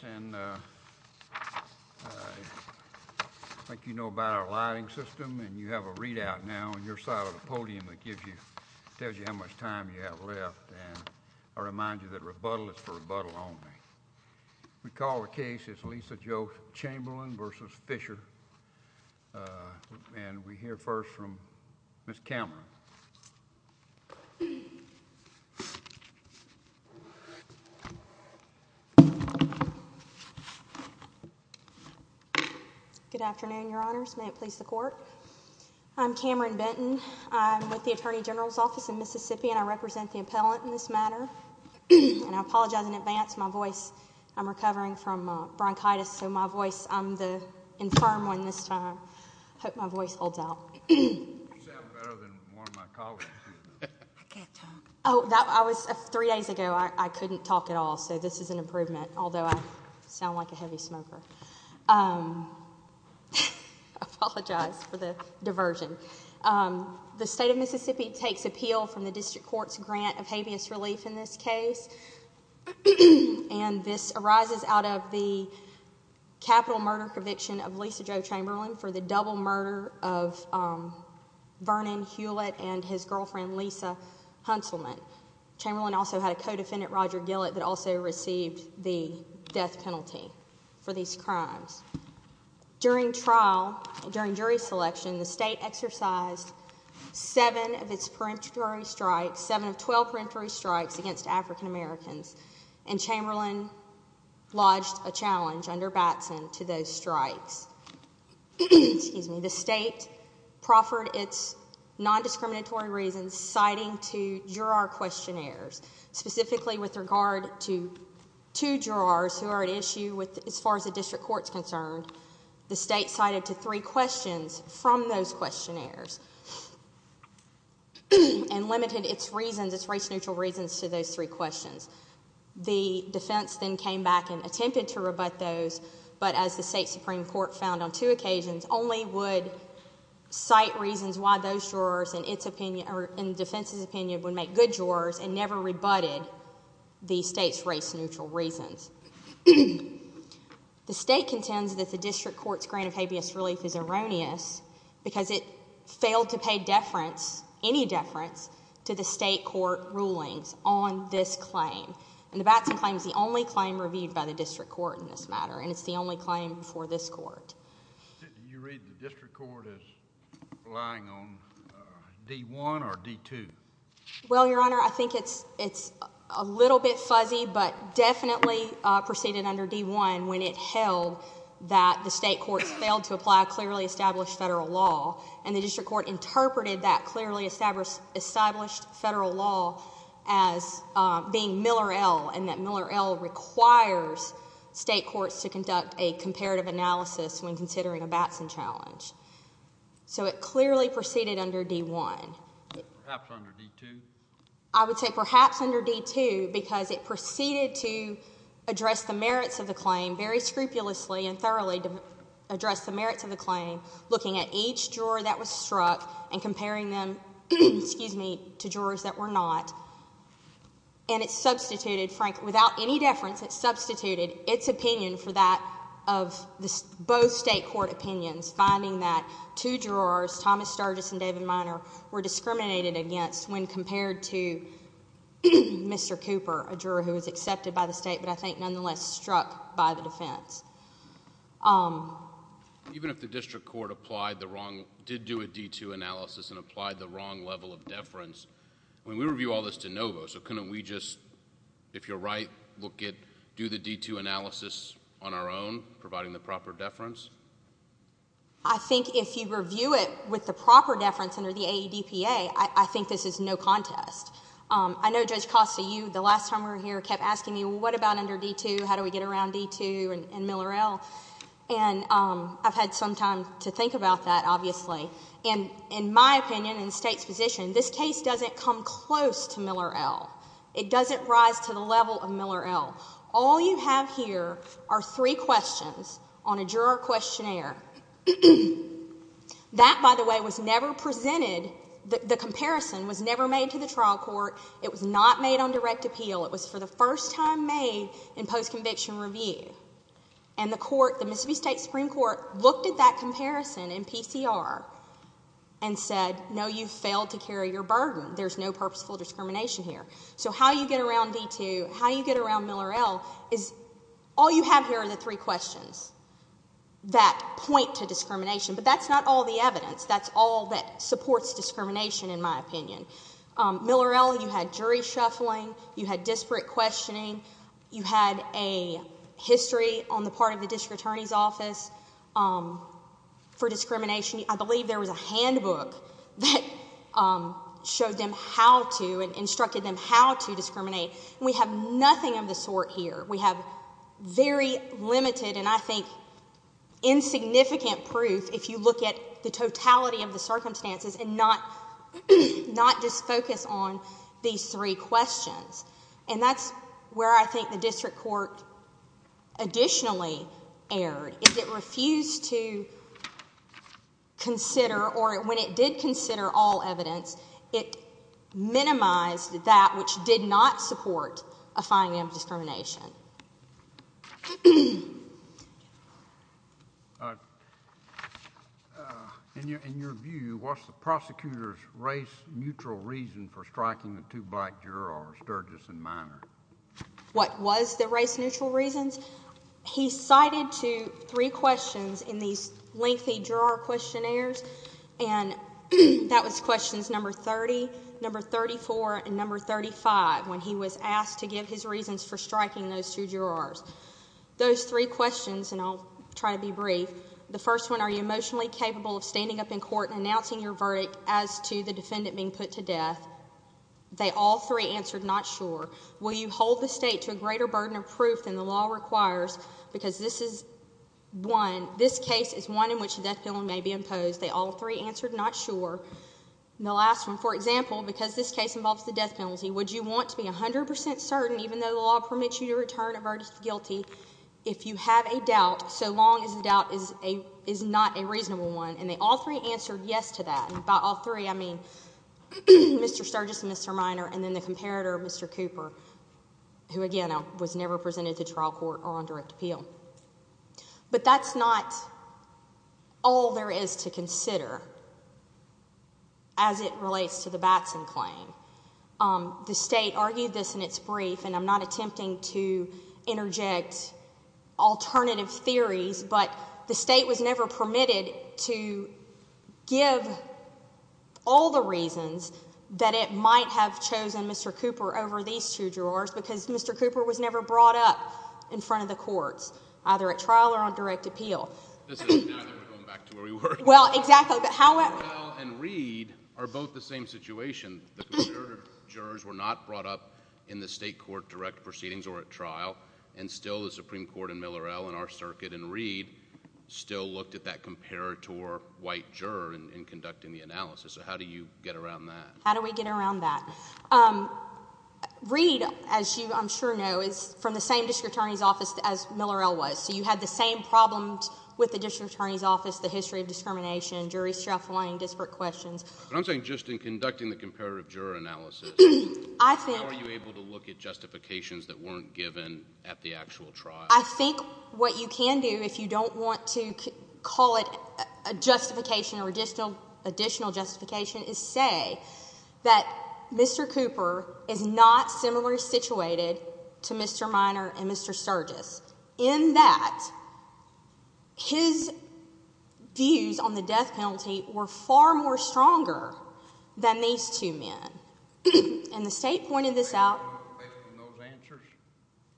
And I think you know about our lighting system and you have a readout now on your side of the podium that gives you, tells you how much time you have left and I remind you that rebuttal is for rebuttal only. We call the case, it's Lisa Jo Chamberlin v. Fisher and we hear first from Ms. Cameron. Good afternoon, your honors. May it please the court. I'm Cameron Benton. I'm with the Attorney General's office in Mississippi and I represent the appellant in this matter. And I apologize in advance, my voice, I'm recovering from bronchitis so my voice, I'm the infirm one this time. I hope my voice holds out. You sound better than one of my colleagues. I can't talk. Three days ago I couldn't talk at all so this is an improvement, although I sound like a heavy smoker. I apologize for the diversion. The state of Mississippi takes appeal from the district court's grant of habeas relief in this case. And this arises out of the capital murder conviction of Lisa Jo Chamberlin for the double murder of Vernon Hewlett and his girlfriend Lisa Hunselman. Chamberlin also had a co-defendant, Roger Gillett, that also received the death penalty for these crimes. During trial, during jury selection, the state exercised seven of its peremptory strikes, seven of 12 peremptory strikes against African Americans. And Chamberlin lodged a challenge under Batson to those strikes. The state proffered its nondiscriminatory reasons citing to juror questionnaires. Specifically with regard to two jurors who are at issue as far as the district court is concerned, the state cited to three questions from those questionnaires. And limited its reasons, its race neutral reasons to those three questions. The defense then came back and attempted to rebut those, but as the state Supreme Court found on two occasions, only would cite reasons why those jurors in defense's opinion would make good jurors and never rebutted the state's race neutral reasons. The state contends that the district court's grant of habeas relief is erroneous because it failed to pay deference, any deference, to the state court rulings on this claim. And the Batson claim is the only claim reviewed by the district court in this matter, and it's the only claim before this court. Do you read the district court as relying on D1 or D2? Well, Your Honor, I think it's a little bit fuzzy, but definitely proceeded under D1 when it held that the state court failed to apply a clearly established federal law. And the district court interpreted that clearly established federal law as being Miller L, and that Miller L requires state courts to conduct a comparative analysis when considering a Batson challenge. So it clearly proceeded under D1. Perhaps under D2? I would say perhaps under D2 because it proceeded to address the merits of the claim very scrupulously and thoroughly to address the merits of the claim, looking at each juror that was struck and comparing them to jurors that were not. And it substituted, Frank, without any deference, it substituted its opinion for that of both state court opinions, finding that two jurors, Thomas Sturgis and David Minor, were discriminated against when compared to Mr. Cooper, a juror who was accepted by the state but I think nonetheless struck by the defense. Even if the district court did do a D2 analysis and applied the wrong level of deference, I mean, we review all this de novo, so couldn't we just, if you're right, look at, do the D2 analysis on our own, providing the proper deference? I think if you review it with the proper deference under the AEDPA, I think this is no contest. I know Judge Costa, you, the last time we were here, kept asking me, well, what about under D2? How do we get around D2 and Miller L? And I've had some time to think about that, obviously. And in my opinion, in the state's position, this case doesn't come close to Miller L. It doesn't rise to the level of Miller L. All you have here are three questions on a juror questionnaire. That, by the way, was never presented, the comparison was never made to the trial court. It was not made on direct appeal. It was for the first time made in post-conviction review. And the court, the Mississippi State Supreme Court, looked at that comparison in PCR and said, no, you failed to carry your burden. There's no purposeful discrimination here. So how you get around D2, how you get around Miller L, is all you have here are the three questions that point to discrimination. But that's not all the evidence. That's all that supports discrimination, in my opinion. Miller L, you had jury shuffling. You had disparate questioning. You had a history on the part of the district attorney's office for discrimination. I believe there was a handbook that showed them how to and instructed them how to discriminate. We have nothing of the sort here. We have very limited and I think insignificant proof if you look at the totality of the circumstances and not just focus on these three questions. And that's where I think the district court additionally erred. It refused to consider or when it did consider all evidence, it minimized that which did not support a finding of discrimination. In your view, what's the prosecutor's race-neutral reason for striking the two black jurors, Sturgis and Miner? What was the race-neutral reasons? He cited three questions in these lengthy juror questionnaires, and that was questions number 30, number 34, and number 35, when he was asked to give his reasons for striking those two jurors. Those three questions, and I'll try to be brief, the first one, are you emotionally capable of standing up in court and announcing your verdict as to the defendant being put to death? They all three answered not sure. Will you hold the state to a greater burden of proof than the law requires? Because this is one, this case is one in which a death penalty may be imposed. They all three answered not sure. The last one, for example, because this case involves the death penalty, would you want to be 100% certain, even though the law permits you to return a verdict guilty, if you have a doubt so long as the doubt is not a reasonable one? And they all three answered yes to that. And by all three, I mean Mr. Sturgis and Mr. Minor and then the comparator, Mr. Cooper, who, again, was never presented to trial court or on direct appeal. But that's not all there is to consider as it relates to the Batson claim. The state argued this in its brief, and I'm not attempting to interject alternative theories, but the state was never permitted to give all the reasons that it might have chosen Mr. Cooper over these two jurors because Mr. Cooper was never brought up in front of the courts, either at trial or on direct appeal. This is neither. We're going back to where we were. Well, exactly. Miller-Ell and Reed are both the same situation. The comparator jurors were not brought up in the state court direct proceedings or at trial, and still the Supreme Court and Miller-Ell and our circuit and Reed still looked at that comparator white juror in conducting the analysis. So how do you get around that? How do we get around that? Reed, as you I'm sure know, is from the same district attorney's office as Miller-Ell was, so you had the same problems with the district attorney's office, the history of discrimination, jury struggling, disparate questions. But I'm saying just in conducting the comparator juror analysis, how are you able to look at justifications that weren't given at the actual trial? I think what you can do if you don't want to call it a justification or additional justification is say that Mr. Cooper is not similarly situated to Mr. Minor and Mr. Sergis in that his views on the death penalty were far more stronger than these two men. And the state pointed this out. Based on those answers?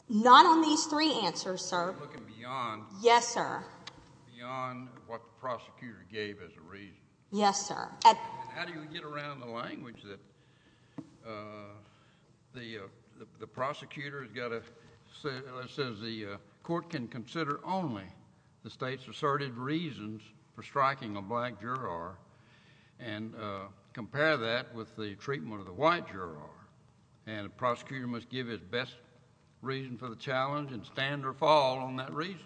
Not on these three answers, sir. You're looking beyond. Yes, sir. Beyond what the prosecutor gave as a reason. Yes, sir. How do you get around the language that the prosecutor has got to say, let's say the court can consider only the state's asserted reasons for striking a black juror and compare that with the treatment of the white juror, and the prosecutor must give his best reason for the challenge and stand or fall on that reason?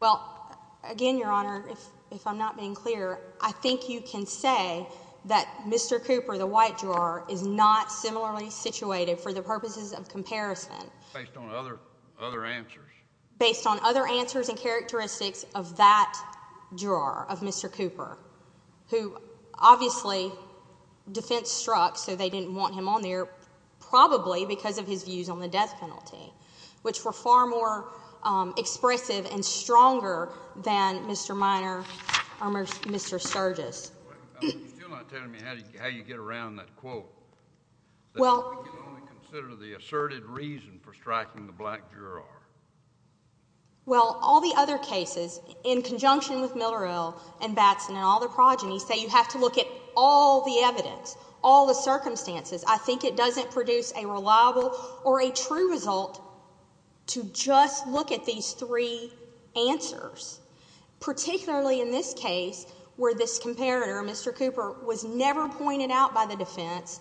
Well, again, Your Honor, if I'm not being clear, I think you can say that Mr. Cooper, the white juror, is not similarly situated for the purposes of comparison. Based on other answers. Based on other answers and characteristics of that juror, of Mr. Cooper, who obviously defense struck so they didn't want him on there probably because of his views on the death penalty, which were far more expressive and stronger than Mr. Miner or Mr. Sturgis. You're not telling me how you get around that quote, that we can only consider the asserted reason for striking the black juror. Well, all the other cases, in conjunction with Millerill and Batson and all their progenies, say you have to look at all the evidence, all the circumstances. I think it doesn't produce a reliable or a true result to just look at these three answers, particularly in this case where this comparator, Mr. Cooper, was never pointed out by the defense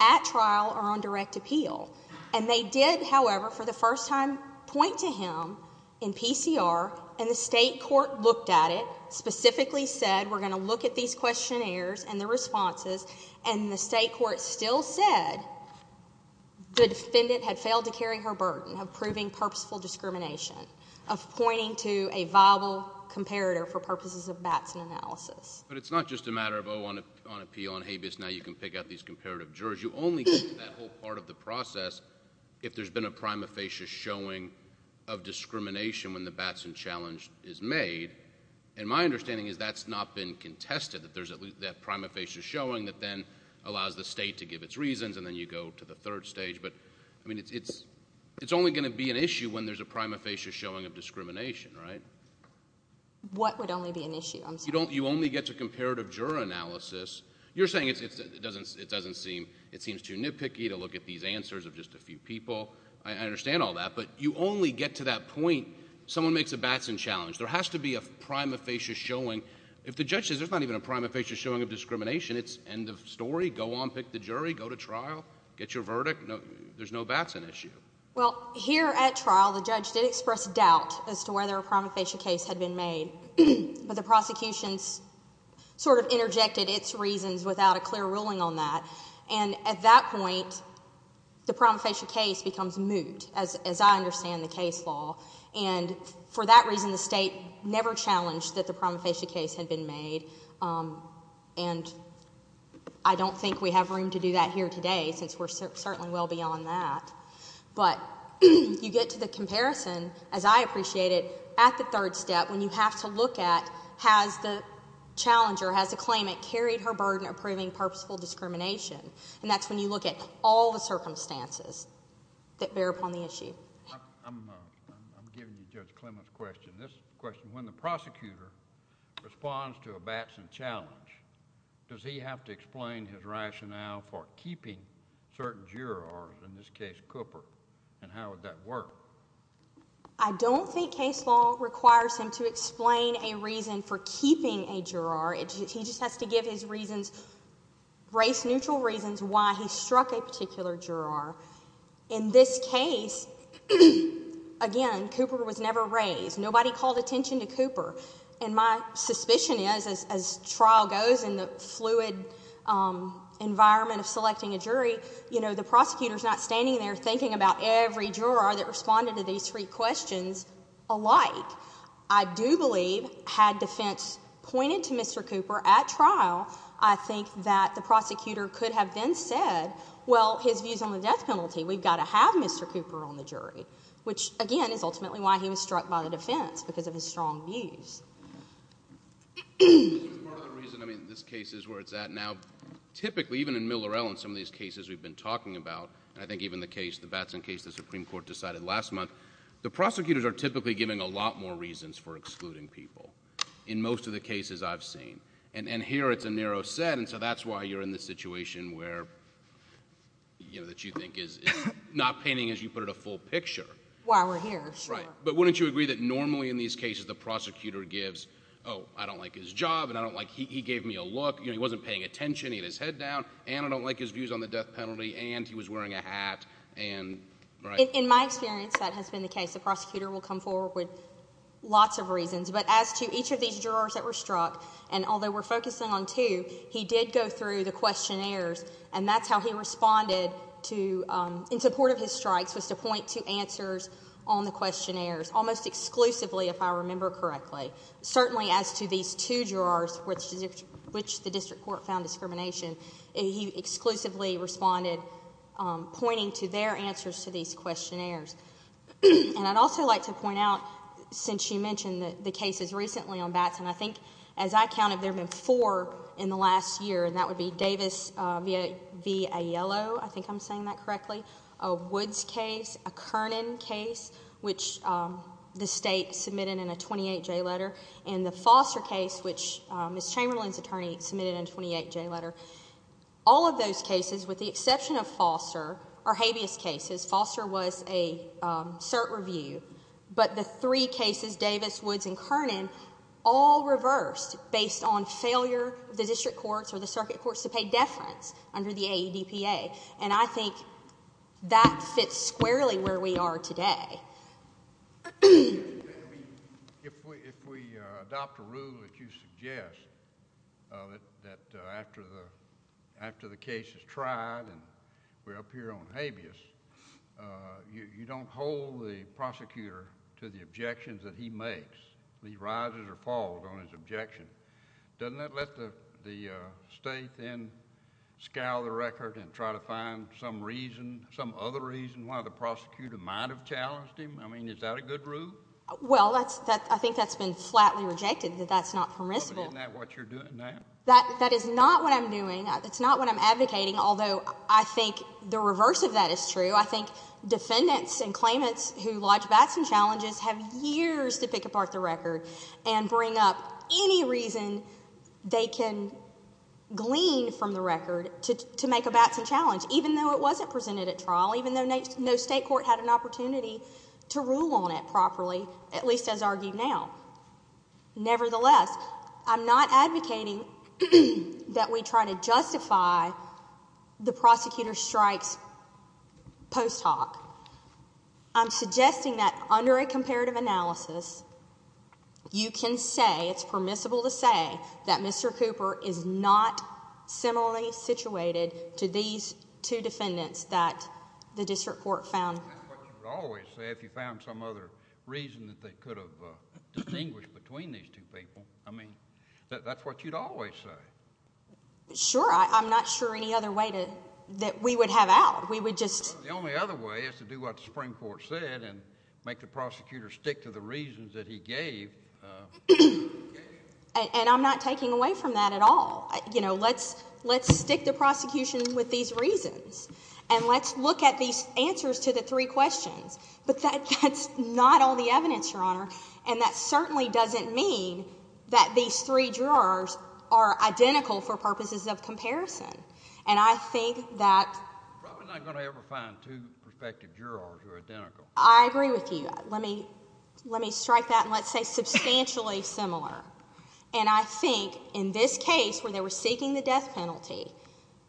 at trial or on direct appeal. And they did, however, for the first time, point to him in PCR, and the state court looked at it, specifically said, we're going to look at these questionnaires and the responses, and the state court still said the defendant had failed to carry her burden of proving purposeful discrimination, of pointing to a viable comparator for purposes of Batson analysis. But it's not just a matter of oh, on appeal, on habeas, now you can pick out these comparative jurors. You only get to that whole part of the process if there's been a prima facie showing of discrimination when the Batson challenge is made. And my understanding is that's not been contested, that there's that prima facie showing that then allows the state to give its reasons and then you go to the third stage. But it's only going to be an issue when there's a prima facie showing of discrimination, right? What would only be an issue? You only get to comparative juror analysis. You're saying it seems too nitpicky to look at these answers of just a few people. I understand all that. But you only get to that point someone makes a Batson challenge. There has to be a prima facie showing. If the judge says there's not even a prima facie showing of discrimination, it's end of story. Go on, pick the jury. Go to trial. Get your verdict. There's no Batson issue. Well, here at trial the judge did express doubt as to whether a prima facie case had been made. But the prosecution sort of interjected its reasons without a clear ruling on that. And at that point the prima facie case becomes moot, as I understand the case law. And for that reason the state never challenged that the prima facie case had been made. And I don't think we have room to do that here today since we're certainly well beyond that. But you get to the comparison, as I appreciate it, at the third step when you have to look at has the challenger, has the claimant carried her burden of proving purposeful discrimination. And that's when you look at all the circumstances that bear upon the issue. I'm giving you Judge Clement's question. This question, when the prosecutor responds to a Batson challenge, does he have to explain his rationale for keeping certain jurors, in this case Cooper, and how would that work? I don't think case law requires him to explain a reason for keeping a juror. He just has to give his reasons, race-neutral reasons, why he struck a particular juror. In this case, again, Cooper was never raised. Nobody called attention to Cooper. And my suspicion is, as trial goes in the fluid environment of selecting a jury, the prosecutor is not standing there thinking about every juror that responded to these three questions alike. I do believe, had defense pointed to Mr. Cooper at trial, I think that the prosecutor could have then said, well, his views on the death penalty, we've got to have Mr. Cooper on the jury, which, again, is ultimately why he was struck by the defense, because of his strong views. Part of the reason, I mean, this case is where it's at now. Typically, even in Miller-Ellen, some of these cases we've been talking about, and I think even the Batson case the Supreme Court decided last month, the prosecutors are typically giving a lot more reasons for excluding people in most of the cases I've seen. And here it's a narrow set, and so that's why you're in this situation where, you know, that you think is not painting, as you put it, a full picture. Why we're here, sure. Right. But wouldn't you agree that normally in these cases the prosecutor gives, oh, I don't like his job, and I don't like he gave me a look, you know, he wasn't paying attention, he had his head down, and I don't like his views on the death penalty, and he was wearing a hat, and right? In my experience, that has been the case. The prosecutor will come forward with lots of reasons. But as to each of these jurors that were struck, and although we're focusing on two, he did go through the questionnaires, and that's how he responded in support of his strikes, was to point to answers on the questionnaires, almost exclusively, if I remember correctly. Certainly as to these two jurors, which the district court found discrimination, he exclusively responded pointing to their answers to these questionnaires. And I'd also like to point out, since you mentioned the cases recently on Batson, I think as I counted there have been four in the last year, and that would be Davis v. Aiello, I think I'm saying that correctly, a Woods case, a Kernan case, which the state submitted in a 28-J letter, and the Foster case, which Ms. Chamberlain's attorney submitted in a 28-J letter. All of those cases, with the exception of Foster, are habeas cases. Foster was a cert review, but the three cases, Davis, Woods, and Kernan, all reversed based on failure of the district courts or the circuit courts to pay deference under the AEDPA. And I think that fits squarely where we are today. If we adopt a rule that you suggest, that after the case is tried and we're up here on habeas, you don't hold the prosecutor to the objections that he makes. He rises or falls on his objection. Doesn't that let the state then scowl the record and try to find some reason, why the prosecutor might have challenged him? I mean, is that a good rule? Well, I think that's been flatly rejected, that that's not permissible. But isn't that what you're doing now? That is not what I'm doing. That's not what I'm advocating, although I think the reverse of that is true. I think defendants and claimants who lodge bats and challenges have years to pick apart the record and bring up any reason they can glean from the record to make a bats and challenge, even though it wasn't presented at trial, even though no state court had an opportunity to rule on it properly, at least as argued now. Nevertheless, I'm not advocating that we try to justify the prosecutor strikes post hoc. I'm suggesting that under a comparative analysis, you can say, it's permissible to say, that Mr. Cooper is not similarly situated to these two defendants that the district court found. That's what you would always say if you found some other reason that they could have distinguished between these two people. I mean, that's what you'd always say. Sure. I'm not sure any other way that we would have out. The only other way is to do what the Supreme Court said and make the prosecutor stick to the reasons that he gave. And I'm not taking away from that at all. You know, let's stick the prosecution with these reasons, and let's look at these answers to the three questions. But that's not all the evidence, Your Honor, and that certainly doesn't mean that these three jurors are identical for purposes of comparison. And I think that— You're probably not going to ever find two prospective jurors who are identical. I agree with you. Let me strike that and let's say substantially similar. And I think in this case where they were seeking the death penalty,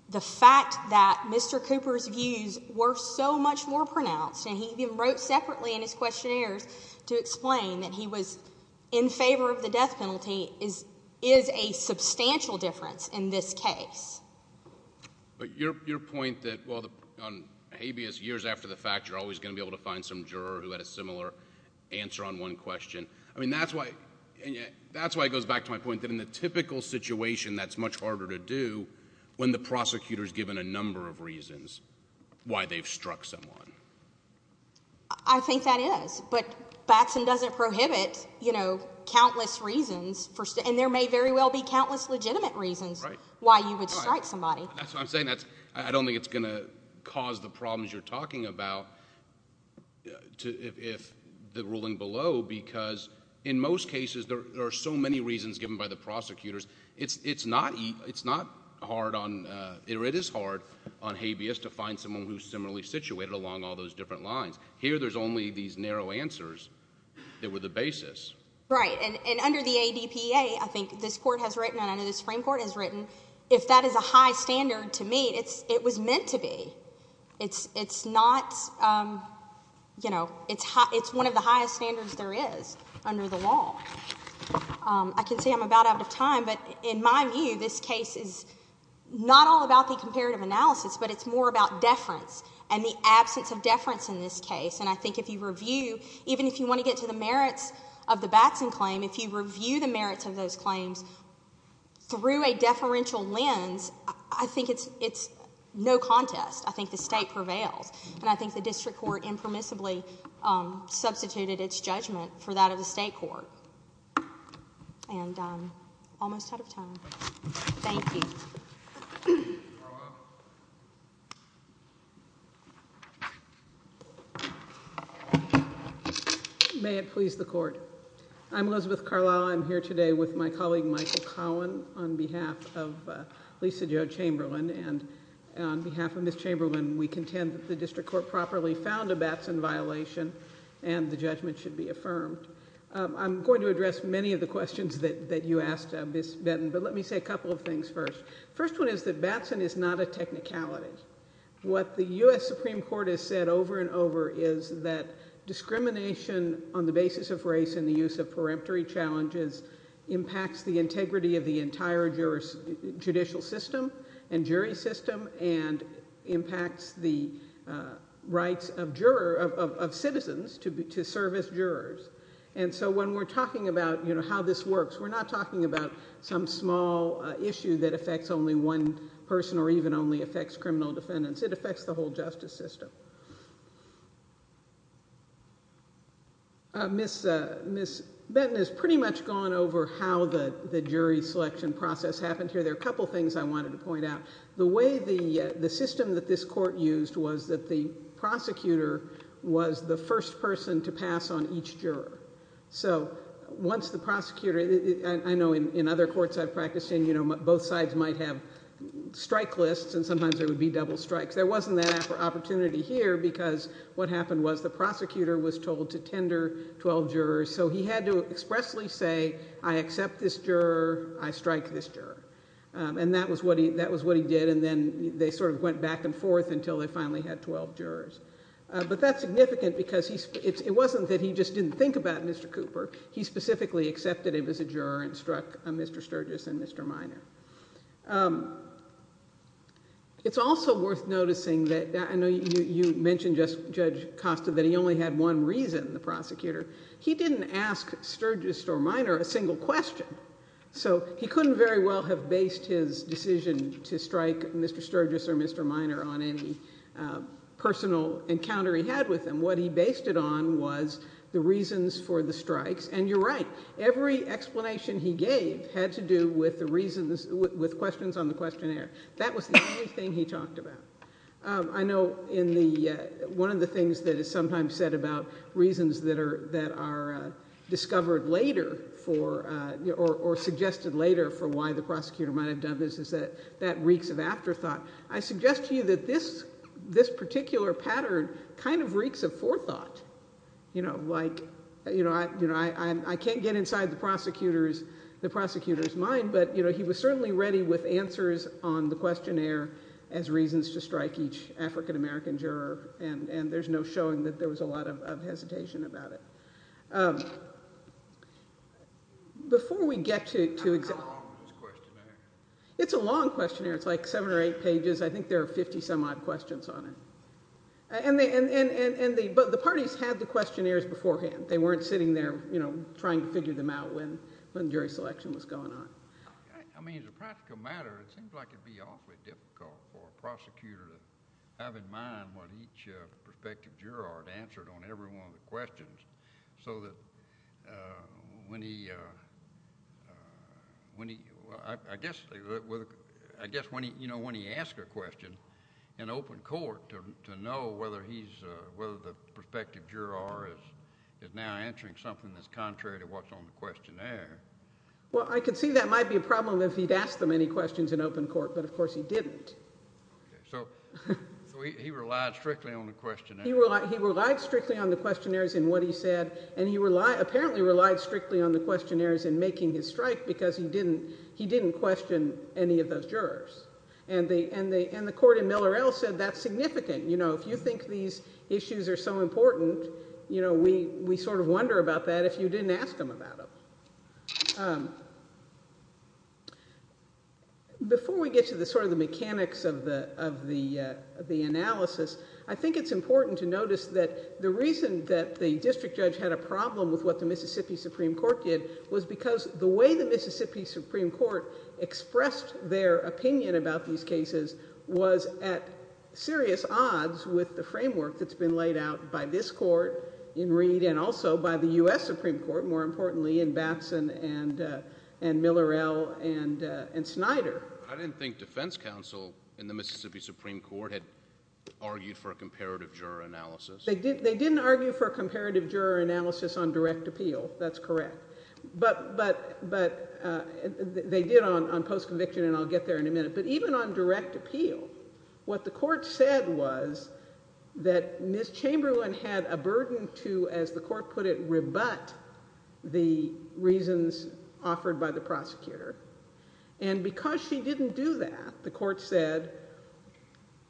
the fact that Mr. Cooper's views were so much more pronounced, and he even wrote separately in his questionnaires to explain that he was in favor of the death penalty, is a substantial difference in this case. But your point that, well, on habeas, years after the fact, you're always going to be able to find some juror who had a similar answer on one question, I mean, that's why it goes back to my point that in the typical situation that's much harder to do when the prosecutor's given a number of reasons why they've struck someone. I think that is. But Batson doesn't prohibit, you know, countless reasons for— And there may very well be countless legitimate reasons why you would strike somebody. That's what I'm saying. I don't think it's going to cause the problems you're talking about if the ruling below, because in most cases there are so many reasons given by the prosecutors. It's not hard on—or it is hard on habeas to find someone who's similarly situated along all those different lines. Here there's only these narrow answers that were the basis. Right. And under the ADPA, I think this Court has written and I know the Supreme Court has written, if that is a high standard to meet, it was meant to be. It's not, you know, it's one of the highest standards there is under the law. I can say I'm about out of time, but in my view this case is not all about the comparative analysis, but it's more about deference and the absence of deference in this case. And I think if you review, even if you want to get to the merits of the Batson claim, if you review the merits of those claims through a deferential lens, I think it's no contest. I think the State prevails. And I think the District Court impermissibly substituted its judgment for that of the State Court. And I'm almost out of time. Thank you. Ms. Carlisle. May it please the Court. I'm Elizabeth Carlisle. I'm here today with my colleague Michael Cowan on behalf of Lisa Jo Chamberlain. And on behalf of Ms. Chamberlain, we contend that the District Court properly found a Batson violation and the judgment should be affirmed. I'm going to address many of the questions that you asked, Ms. Benton, but let me say a couple of things first. The first one is that Batson is not a technicality. What the U.S. Supreme Court has said over and over is that discrimination on the basis of race and the use of peremptory challenges impacts the integrity of the entire judicial system and jury system and impacts the rights of citizens to serve as jurors. And so when we're talking about, you know, how this works, we're not talking about some small issue that affects only one person or even only affects criminal defendants. It affects the whole justice system. Ms. Benton has pretty much gone over how the jury selection process happened here. There are a couple of things I wanted to point out. The way the system that this court used was that the prosecutor was the first person to pass on each juror. So once the prosecutor—I know in other courts I've practiced in, you know, both sides might have strike lists and sometimes there would be double strikes. There wasn't that opportunity here because what happened was the prosecutor was told to tender 12 jurors, so he had to expressly say, I accept this juror, I strike this juror. And that was what he did, and then they sort of went back and forth until they finally had 12 jurors. But that's significant because it wasn't that he just didn't think about Mr. Cooper. He specifically accepted him as a juror and struck Mr. Sturgis and Mr. Minor. It's also worth noticing that—I know you mentioned, Judge Costa, that he only had one reason, the prosecutor. He didn't ask Sturgis or Minor a single question. So he couldn't very well have based his decision to strike Mr. Sturgis or Mr. Minor on any personal encounter he had with him. What he based it on was the reasons for the strikes, and you're right. Every explanation he gave had to do with the reasons—with questions on the questionnaire. That was the only thing he talked about. I know in the—one of the things that is sometimes said about reasons that are discovered later for— or suggested later for why the prosecutor might have done this is that that reeks of afterthought. I suggest to you that this particular pattern kind of reeks of forethought. Like, you know, I can't get inside the prosecutor's mind, but he was certainly ready with answers on the questionnaire as reasons to strike each African-American juror, and there's no showing that there was a lot of hesitation about it. Before we get to— How long was the questionnaire? It's a long questionnaire. It's like seven or eight pages. I think there are 50-some-odd questions on it. But the parties had the questionnaires beforehand. They weren't sitting there, you know, trying to figure them out when jury selection was going on. I mean, as a practical matter, it seems like it would be awfully difficult for a prosecutor to have in mind what each prospective juror had answered on every one of the questions so that when he— I guess when he—you know, when he asks a question in open court to know whether he's— he's now answering something that's contrary to what's on the questionnaire. Well, I could see that might be a problem if he'd asked them any questions in open court, but of course he didn't. So he relied strictly on the questionnaire. He relied strictly on the questionnaires in what he said, and he apparently relied strictly on the questionnaires in making his strike because he didn't question any of those jurors. And the court in Miller L. said that's significant. You know, if you think these issues are so important, you know, we sort of wonder about that if you didn't ask them about them. Before we get to the sort of the mechanics of the analysis, I think it's important to notice that the reason that the district judge had a problem with what the Mississippi Supreme Court did was because the way the Mississippi Supreme Court expressed their opinion about these cases was at serious odds with the framework that's been laid out by this court in Reed and also by the U.S. Supreme Court, more importantly, in Batson and Miller L. and Snyder. I didn't think defense counsel in the Mississippi Supreme Court had argued for a comparative juror analysis. They didn't argue for a comparative juror analysis on direct appeal. That's correct. But they did on post-conviction, and I'll get there in a minute. But even on direct appeal, what the court said was that Ms. Chamberlain had a burden to, as the court put it, rebut the reasons offered by the prosecutor. And because she didn't do that, the court said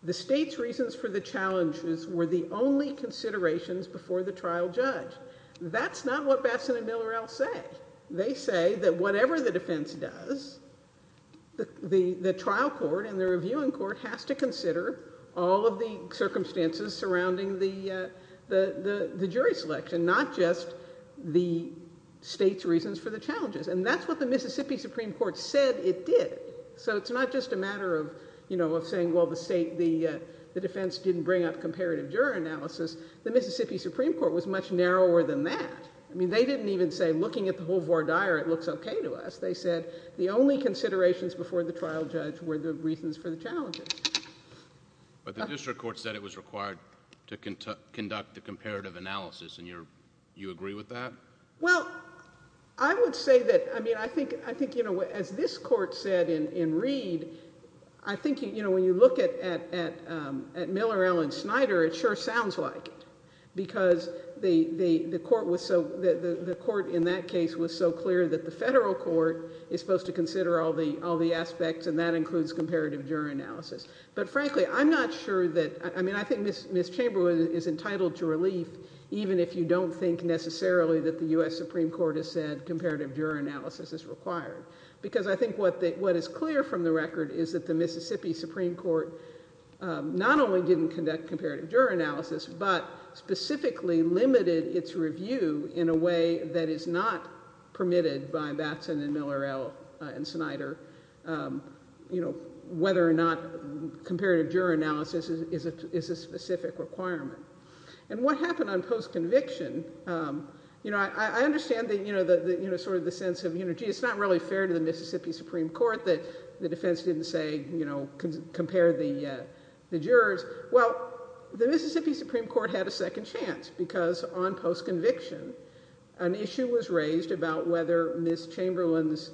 the state's reasons for the challenges were the only considerations before the trial judge. That's not what Batson and Miller L. say. They say that whatever the defense does, the trial court and the reviewing court has to consider all of the circumstances surrounding the jury selection, not just the state's reasons for the challenges. And that's what the Mississippi Supreme Court said it did. So it's not just a matter of saying, well, the defense didn't bring up comparative juror analysis. The Mississippi Supreme Court was much narrower than that. I mean, they didn't even say, looking at the whole voir dire, it looks okay to us. They said the only considerations before the trial judge were the reasons for the challenges. But the district court said it was required to conduct the comparative analysis, and you agree with that? Well, I would say that, I mean, I think, you know, as this court said in Reed, I think, you know, when you look at Miller L. and Snyder, it sure sounds like it because the court in that case was so clear that the federal court is supposed to consider all the aspects, and that includes comparative juror analysis. But frankly, I'm not sure that, I mean, I think Ms. Chamberlain is entitled to relief even if you don't think necessarily that the U.S. Supreme Court has said comparative juror analysis is required because I think what is clear from the record is that the Mississippi Supreme Court not only didn't conduct comparative juror analysis, but specifically limited its review in a way that is not permitted by Batson and Miller L. and Snyder, you know, whether or not comparative juror analysis is a specific requirement. And what happened on post-conviction, you know, I understand that, you know, sort of the sense of, you know, gee, it's not really fair to the Mississippi Supreme Court that the defense didn't say, you know, compare the jurors. Well, the Mississippi Supreme Court had a second chance because on post-conviction an issue was raised about whether Ms. Chamberlain's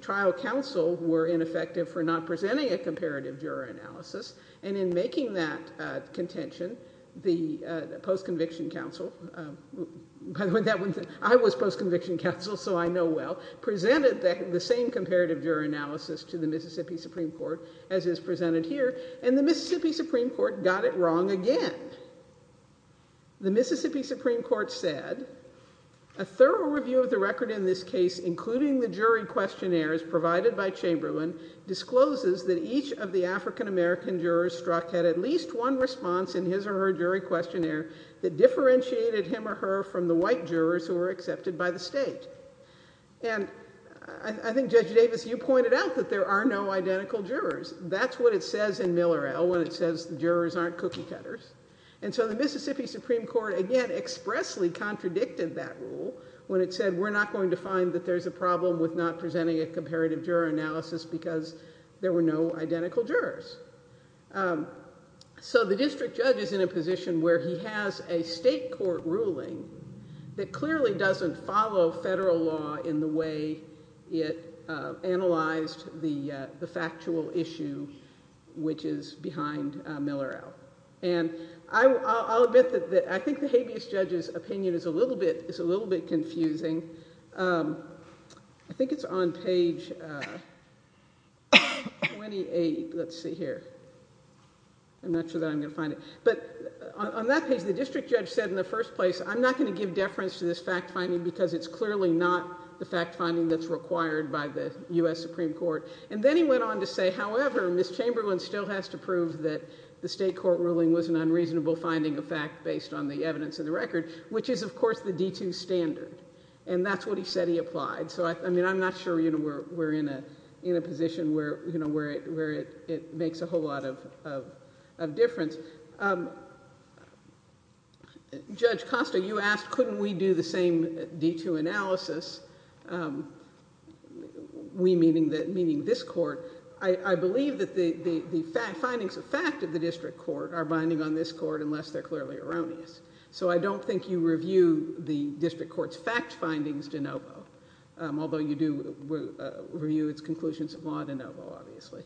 trial counsel were ineffective for not presenting a comparative juror analysis, and in making that contention, the post-conviction counsel, by the way, I was post-conviction counsel, so I know well, presented the same comparative juror analysis to the Mississippi Supreme Court as is presented here, and the Mississippi Supreme Court got it wrong again. The Mississippi Supreme Court said, A thorough review of the record in this case, including the jury questionnaires provided by Chamberlain, discloses that each of the African-American jurors struck had at least one response in his or her jury questionnaire that differentiated him or her from the white jurors who were accepted by the state. And I think, Judge Davis, you pointed out that there are no identical jurors. That's what it says in Miller L. when it says the jurors aren't cookie cutters. And so the Mississippi Supreme Court, again, expressly contradicted that rule when it said we're not going to find that there's a problem with not presenting a comparative juror analysis because there were no identical jurors. So the district judge is in a position where he has a state court ruling that clearly doesn't follow federal law in the way it analyzed the factual issue, which is behind Miller L. And I'll admit that I think the habeas judge's opinion is a little bit confusing. I think it's on page 28. Let's see here. I'm not sure that I'm going to find it. But on that page, the district judge said in the first place, I'm not going to give deference to this fact finding because it's clearly not the fact finding that's required by the U.S. Supreme Court. And then he went on to say, however, Ms. Chamberlain still has to prove that the state court ruling was an unreasonable finding of fact based on the evidence in the record, which is, of course, the D2 standard. And that's what he said he applied. So, I mean, I'm not sure we're in a position where it makes a whole lot of difference. Judge Costa, you asked couldn't we do the same D2 analysis, we meaning this court. I believe that the findings of fact of the district court are binding on this court unless they're clearly erroneous. So I don't think you review the district court's fact findings de novo, although you do review its conclusions of law de novo, obviously.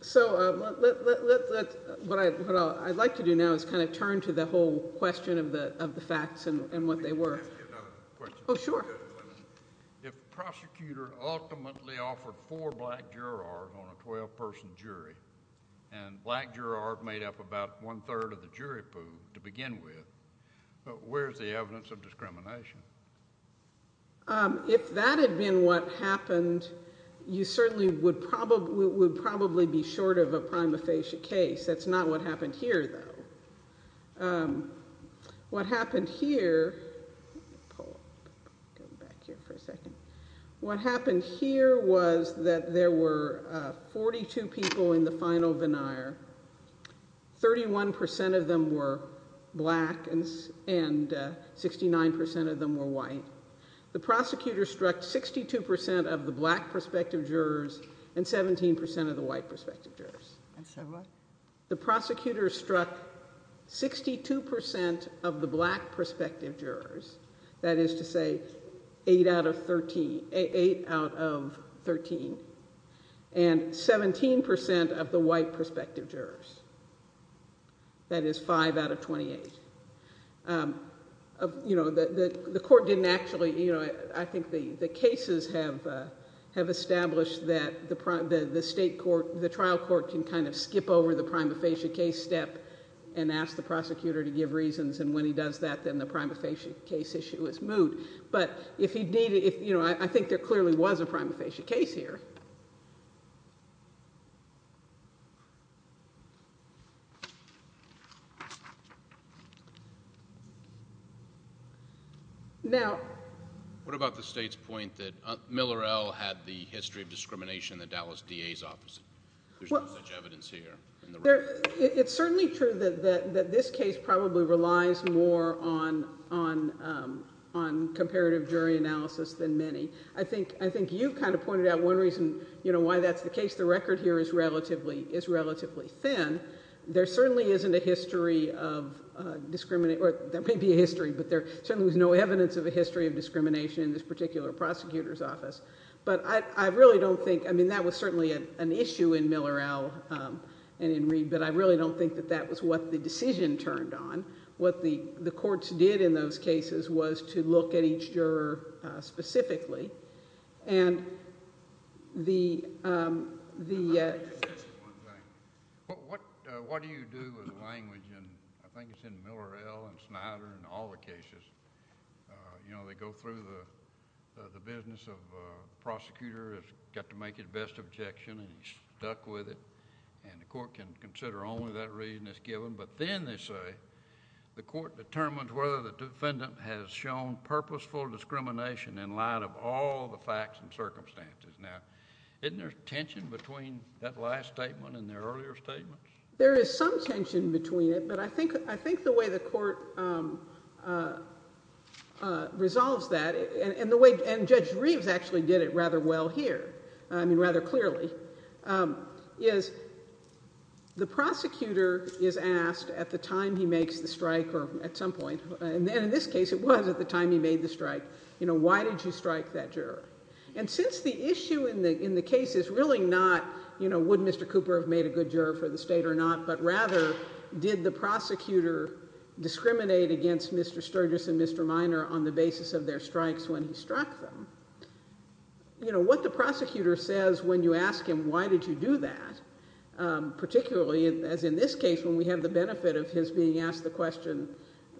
So what I'd like to do now is kind of turn to the whole question of the facts and what they were. Oh, sure. If the prosecutor ultimately offered four black jurors on a 12-person jury and black jurors made up about one-third of the jury pool to begin with, where's the evidence of discrimination? If that had been what happened, you certainly would probably be short of a prima facie case. That's not what happened here, though. What happened here was that there were 42 people in the final veneer. 31% of them were black and 69% of them were white. The prosecutor struck 62% of the black prospective jurors and 17% of the white prospective jurors. And so what? The prosecutor struck 62% of the black prospective jurors, that is to say eight out of 13, and 17% of the white prospective jurors, that is five out of 28. I think the cases have established that the trial court can kind of skip over the prima facie case step and ask the prosecutor to give reasons, and when he does that, then the prima facie case issue is moved. But I think there clearly was a prima facie case here. What about the state's point that Miller L. had the history of discrimination in the Dallas DA's office? There's no such evidence here. It's certainly true that this case probably relies more on comparative jury analysis than many. I think you kind of pointed out one reason why that's the case. The record here is relatively thin. There certainly isn't a history of discrimination, or there may be a history, but there certainly was no evidence of a history of discrimination in this particular prosecutor's office. But I really don't think, I mean that was certainly an issue in Miller L. and in Reed, but I really don't think that that was what the decision turned on. What the courts did in those cases was to look at each juror specifically. What do you do with language? I think it's in Miller L. and Snyder and all the cases. They go through the business of the prosecutor has got to make his best objection and he's stuck with it, and the court can consider only that reason is given, but then they say the court determines whether the defendant has shown purposeful discrimination in light of all the facts and circumstances. Now isn't there tension between that last statement and their earlier statements? There is some tension between it, but I think the way the court resolves that, and Judge Reeves actually did it rather well here, I mean rather clearly, is the prosecutor is asked at the time he makes the strike or at some point, and in this case it was at the time he made the strike, why did you strike that juror? And since the issue in the case is really not would Mr. Cooper have made a good juror for the state or not, but rather did the prosecutor discriminate against Mr. Sturgis and Mr. Minor on the basis of their strikes when he struck them, what the prosecutor says when you ask him why did you do that, particularly as in this case when we have the benefit of his being asked the question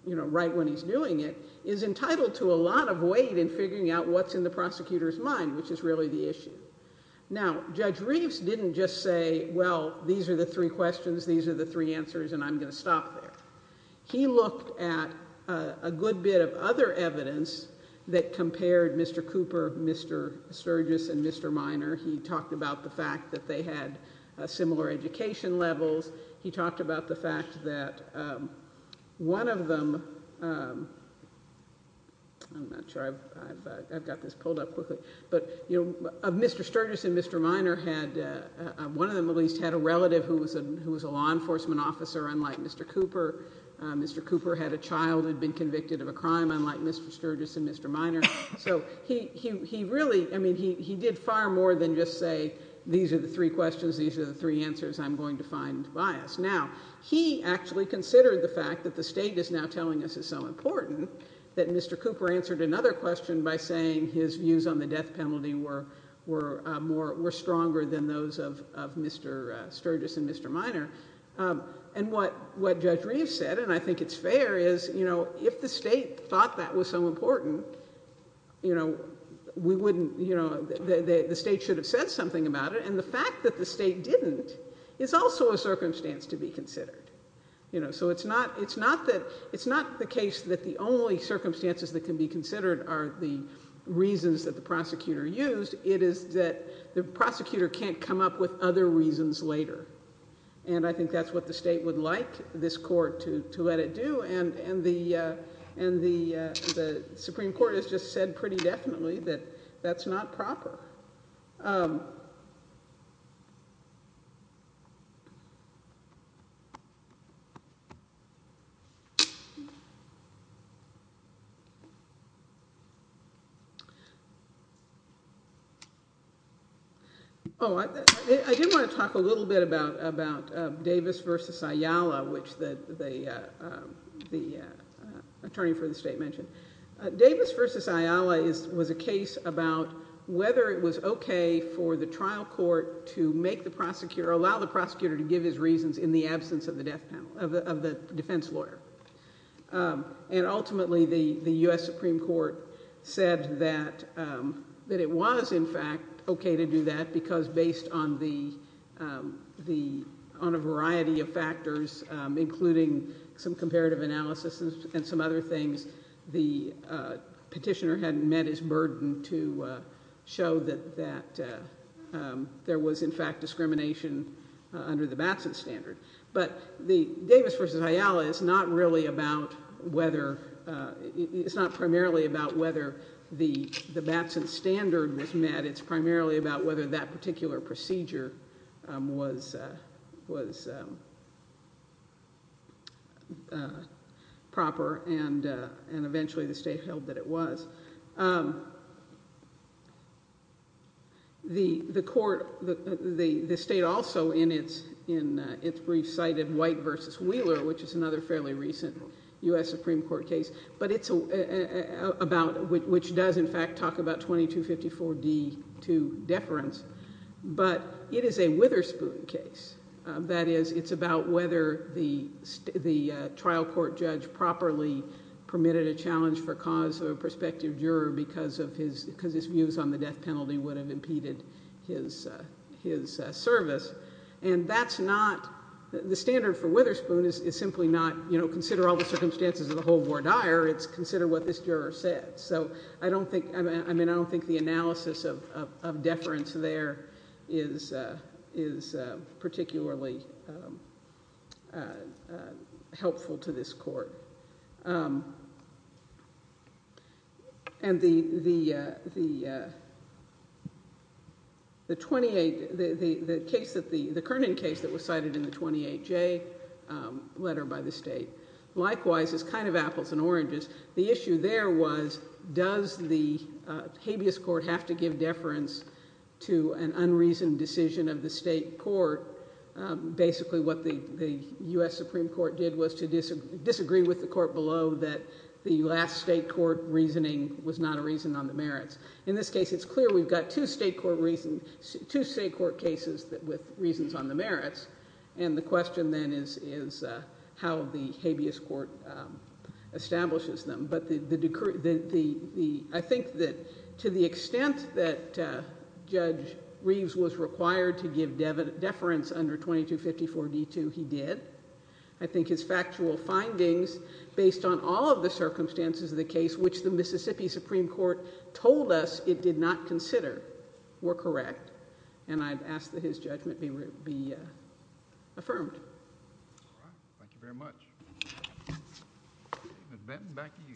right when he's doing it, is entitled to a lot of weight in figuring out what's in the prosecutor's mind, which is really the issue. Now Judge Reeves didn't just say well these are the three questions, these are the three answers, and I'm going to stop there. He looked at a good bit of other evidence that compared Mr. Cooper, Mr. Sturgis, and Mr. Minor. He talked about the fact that they had similar education levels. He talked about the fact that one of them, I'm not sure I've got this pulled up quickly, but Mr. Sturgis and Mr. Minor had, one of them at least, had a relative who was a law enforcement officer, unlike Mr. Cooper. Mr. Cooper had a child who had been convicted of a crime, unlike Mr. Sturgis and Mr. Minor. So he really, I mean he did far more than just say these are the three questions, these are the three answers, I'm going to find bias. Now he actually considered the fact that the state is now telling us is so important that Mr. Cooper answered another question by saying his views on the death penalty were stronger than those of Mr. Sturgis and Mr. Minor. And what Judge Reeves said, and I think it's fair, is if the state thought that was so important, the state should have said something about it, and the fact that the state didn't is also a circumstance to be considered. So it's not the case that the only circumstances that can be considered are the reasons that the prosecutor used. It is that the prosecutor can't come up with other reasons later. And I think that's what the state would like this court to let it do, and the Supreme Court has just said pretty definitely that that's not proper. Oh, I did want to talk a little bit about Davis versus Ayala, which the attorney for the state mentioned. Davis versus Ayala was a case about whether it was okay for the trial court to make the prosecutor, allow the prosecutor to give his reasons in the absence of the defense lawyer. And ultimately the U.S. Supreme Court said that it was in fact okay to do that because based on a variety of factors, including some comparative analysis and some other things, the petitioner hadn't met his burden to show that there was in fact discrimination under the Batson standard. But the Davis versus Ayala is not really about whether – it's not primarily about whether the Batson standard was met. It's primarily about whether that particular procedure was proper, and eventually the state held that it was. The court – the state also in its brief cited White versus Wheeler, which is another fairly recent U.S. Supreme Court case, but it's about – which does in fact talk about 2254D2 deference. But it is a Witherspoon case. That is, it's about whether the trial court judge properly permitted a challenge for cause of a prospective juror because his views on the death penalty would have impeded his service. And that's not – the standard for Witherspoon is simply not, you know, consider all the circumstances of the whole or dire. It's consider what this juror said. So I don't think – I mean, I don't think the analysis of deference there is particularly helpful to this court. And the 28 – the case that the – the Kernan case that was cited in the 28J letter by the state likewise is kind of apples and oranges. The issue there was does the habeas court have to give deference to an unreasoned decision of the state court? Basically what the U.S. Supreme Court did was to disagree with the court below that the last state court reasoning was not a reason on the merits. In this case, it's clear we've got two state court reasons – two state court cases with reasons on the merits, and the question then is how the habeas court establishes them. But the – I think that to the extent that Judge Reeves was required to give deference under 2254D2, he did. I think his factual findings, based on all of the circumstances of the case which the Mississippi Supreme Court told us it did not consider, were correct. And I'd ask that his judgment be affirmed. All right. Thank you very much. Ms. Benton, back to you.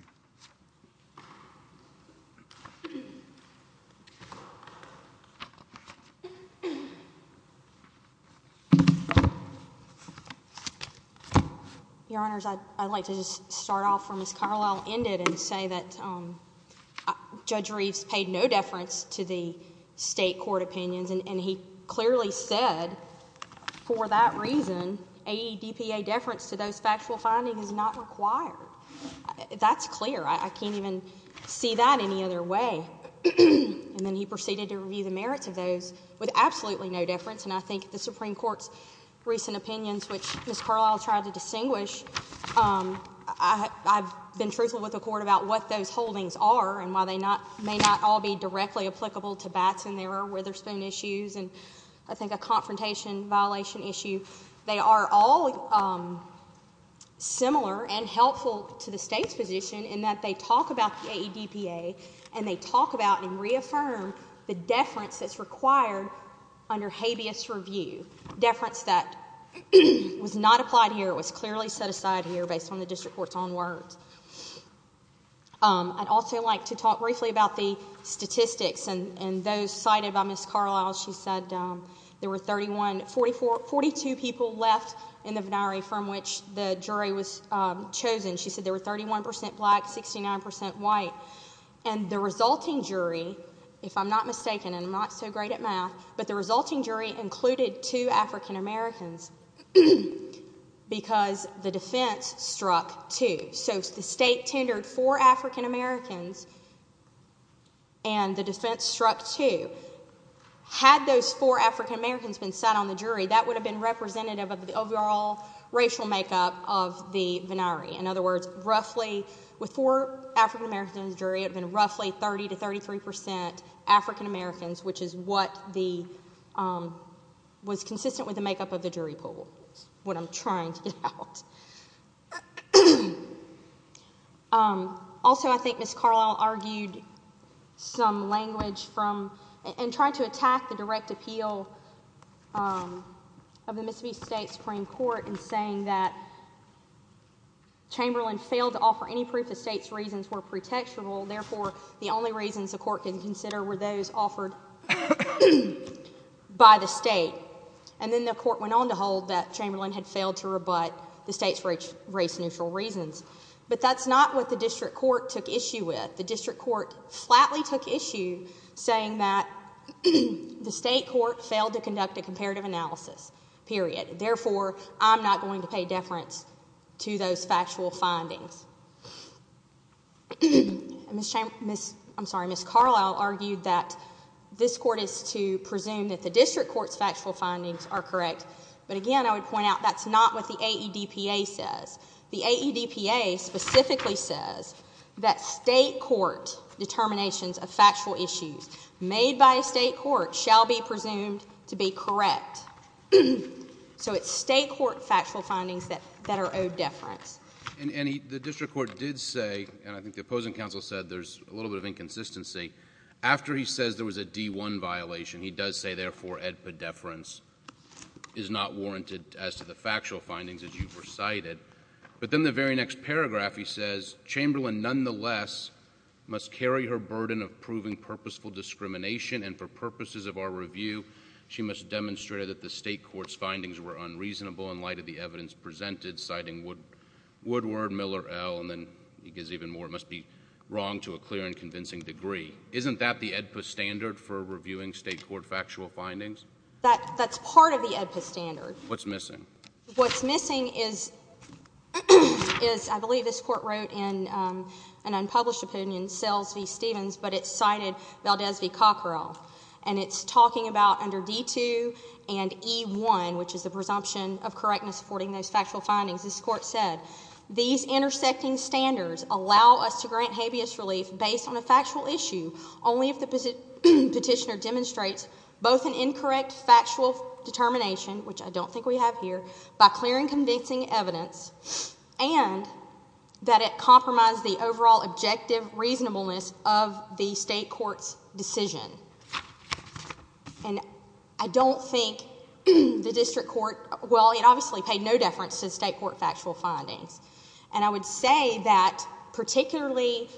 Your Honors, I'd like to just start off where Ms. Carlisle ended and say that Judge Reeves paid no deference to the state court opinions. And he clearly said, for that reason, AEDPA deference to those factual findings is not required. That's clear. I can't even see that any other way. And then he proceeded to review the merits of those with absolutely no deference. And I think the Supreme Court's recent opinions, which Ms. Carlisle tried to distinguish, I've been truthful with the Court about what those holdings are and why they may not all be directly applicable to Batson. There are Witherspoon issues and I think a confrontation violation issue. They are all similar and helpful to the State's position in that they talk about the AEDPA, and they talk about and reaffirm the deference that's required under habeas review, and the deference that was not applied here was clearly set aside here based on the district court's own words. I'd also like to talk briefly about the statistics and those cited by Ms. Carlisle. She said there were 42 people left in the venire from which the jury was chosen. She said there were 31 percent black, 69 percent white. And the resulting jury, if I'm not mistaken, and I'm not so great at math, but the resulting jury included two African Americans because the defense struck two. So the State tendered four African Americans and the defense struck two. Had those four African Americans been set on the jury, that would have been representative of the overall racial makeup of the venire. In other words, roughly with four African Americans on the jury, it would have been roughly 30 to 33 percent African Americans, which is what was consistent with the makeup of the jury pool is what I'm trying to get out. Also, I think Ms. Carlisle argued some language and tried to attack the direct appeal of the Mississippi State Supreme Court in saying that Chamberlain failed to offer any proof the State's reasons were pretextual. Therefore, the only reasons the Court can consider were those offered by the State. And then the Court went on to hold that Chamberlain had failed to rebut the State's race-neutral reasons. But that's not what the district court took issue with. The district court flatly took issue saying that the State court failed to conduct a comparative analysis, period. Therefore, I'm not going to pay deference to those factual findings. Ms. Carlisle argued that this Court is to presume that the district court's factual findings are correct. But again, I would point out that's not what the AEDPA says. The AEDPA specifically says that State court determinations of factual issues made by a State court shall be presumed to be correct. So it's State court factual findings that are owed deference. And the district court did say, and I think the opposing counsel said there's a little bit of inconsistency, after he says there was a D-1 violation, he does say, therefore, AEDPA deference is not warranted as to the factual findings that you've recited. But then the very next paragraph he says, Chamberlain, nonetheless, must carry her burden of proving purposeful discrimination. And for purposes of our review, she must demonstrate that the State court's findings were unreasonable in light of the evidence presented, citing Woodward, Miller, L, and then he gives even more. It must be wrong to a clear and convincing degree. Isn't that the AEDPA standard for reviewing State court factual findings? That's part of the AEDPA standard. What's missing? What's missing is, I believe this court wrote in an unpublished opinion, Sells v. Stevens, but it cited Valdez v. Cockerell. And it's talking about under D-2 and E-1, which is the presumption of correctness supporting those factual findings, this court said, these intersecting standards allow us to grant habeas relief based on a factual issue only if the petitioner demonstrates both an incorrect factual determination, which I don't think we have here, by clear and convincing evidence, and that it compromised the overall objective reasonableness of the State court's decision. And I don't think the district court, well, it obviously paid no deference to the State court factual findings. And I would say that particularly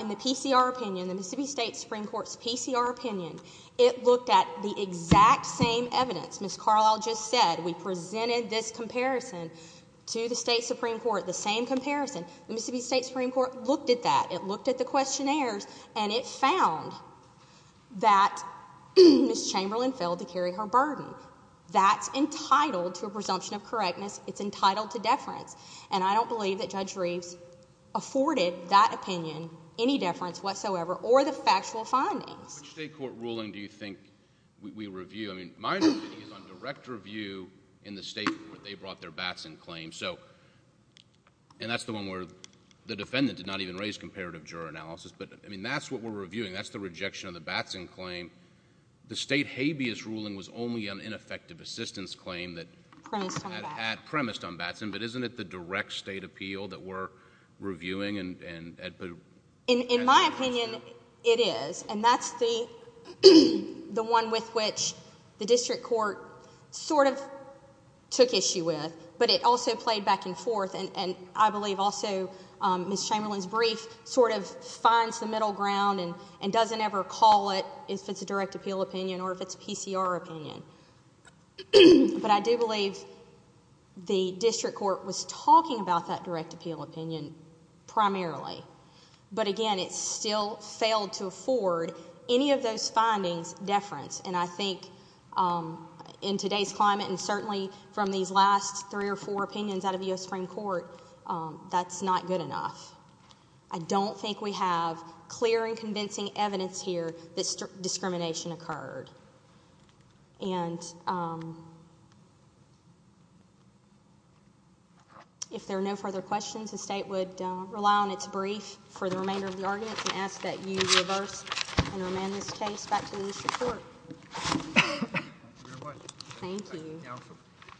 in the PCR opinion, the Mississippi State Supreme Court's PCR opinion, it looked at the exact same evidence. Ms. Carlisle just said we presented this comparison to the State Supreme Court, the same comparison. The Mississippi State Supreme Court looked at that. And it found that Ms. Chamberlain failed to carry her burden. That's entitled to a presumption of correctness. It's entitled to deference. And I don't believe that Judge Reeves afforded that opinion any deference whatsoever or the factual findings. Which State court ruling do you think we review? I mean, my opinion is on direct review in the State court. They brought their bats in claims. And that's the one where the defendant did not even raise comparative juror analysis. But, I mean, that's what we're reviewing. That's the rejection of the bats in claim. The State habeas ruling was only an ineffective assistance claim that premised on bats in. But isn't it the direct State appeal that we're reviewing? In my opinion, it is. And that's the one with which the district court sort of took issue with. But it also played back and forth. And I believe also Ms. Chamberlain's brief sort of finds the middle ground and doesn't ever call it if it's a direct appeal opinion or if it's a PCR opinion. But I do believe the district court was talking about that direct appeal opinion primarily. But, again, it still failed to afford any of those findings deference. And I think in today's climate and certainly from these last three or four opinions out of U.S. Supreme Court, that's not good enough. I don't think we have clear and convincing evidence here that discrimination occurred. And if there are no further questions, the State would rely on its brief for the remainder of the arguments and ask that you reverse and remand Ms. Chase back to the district court. Thank you.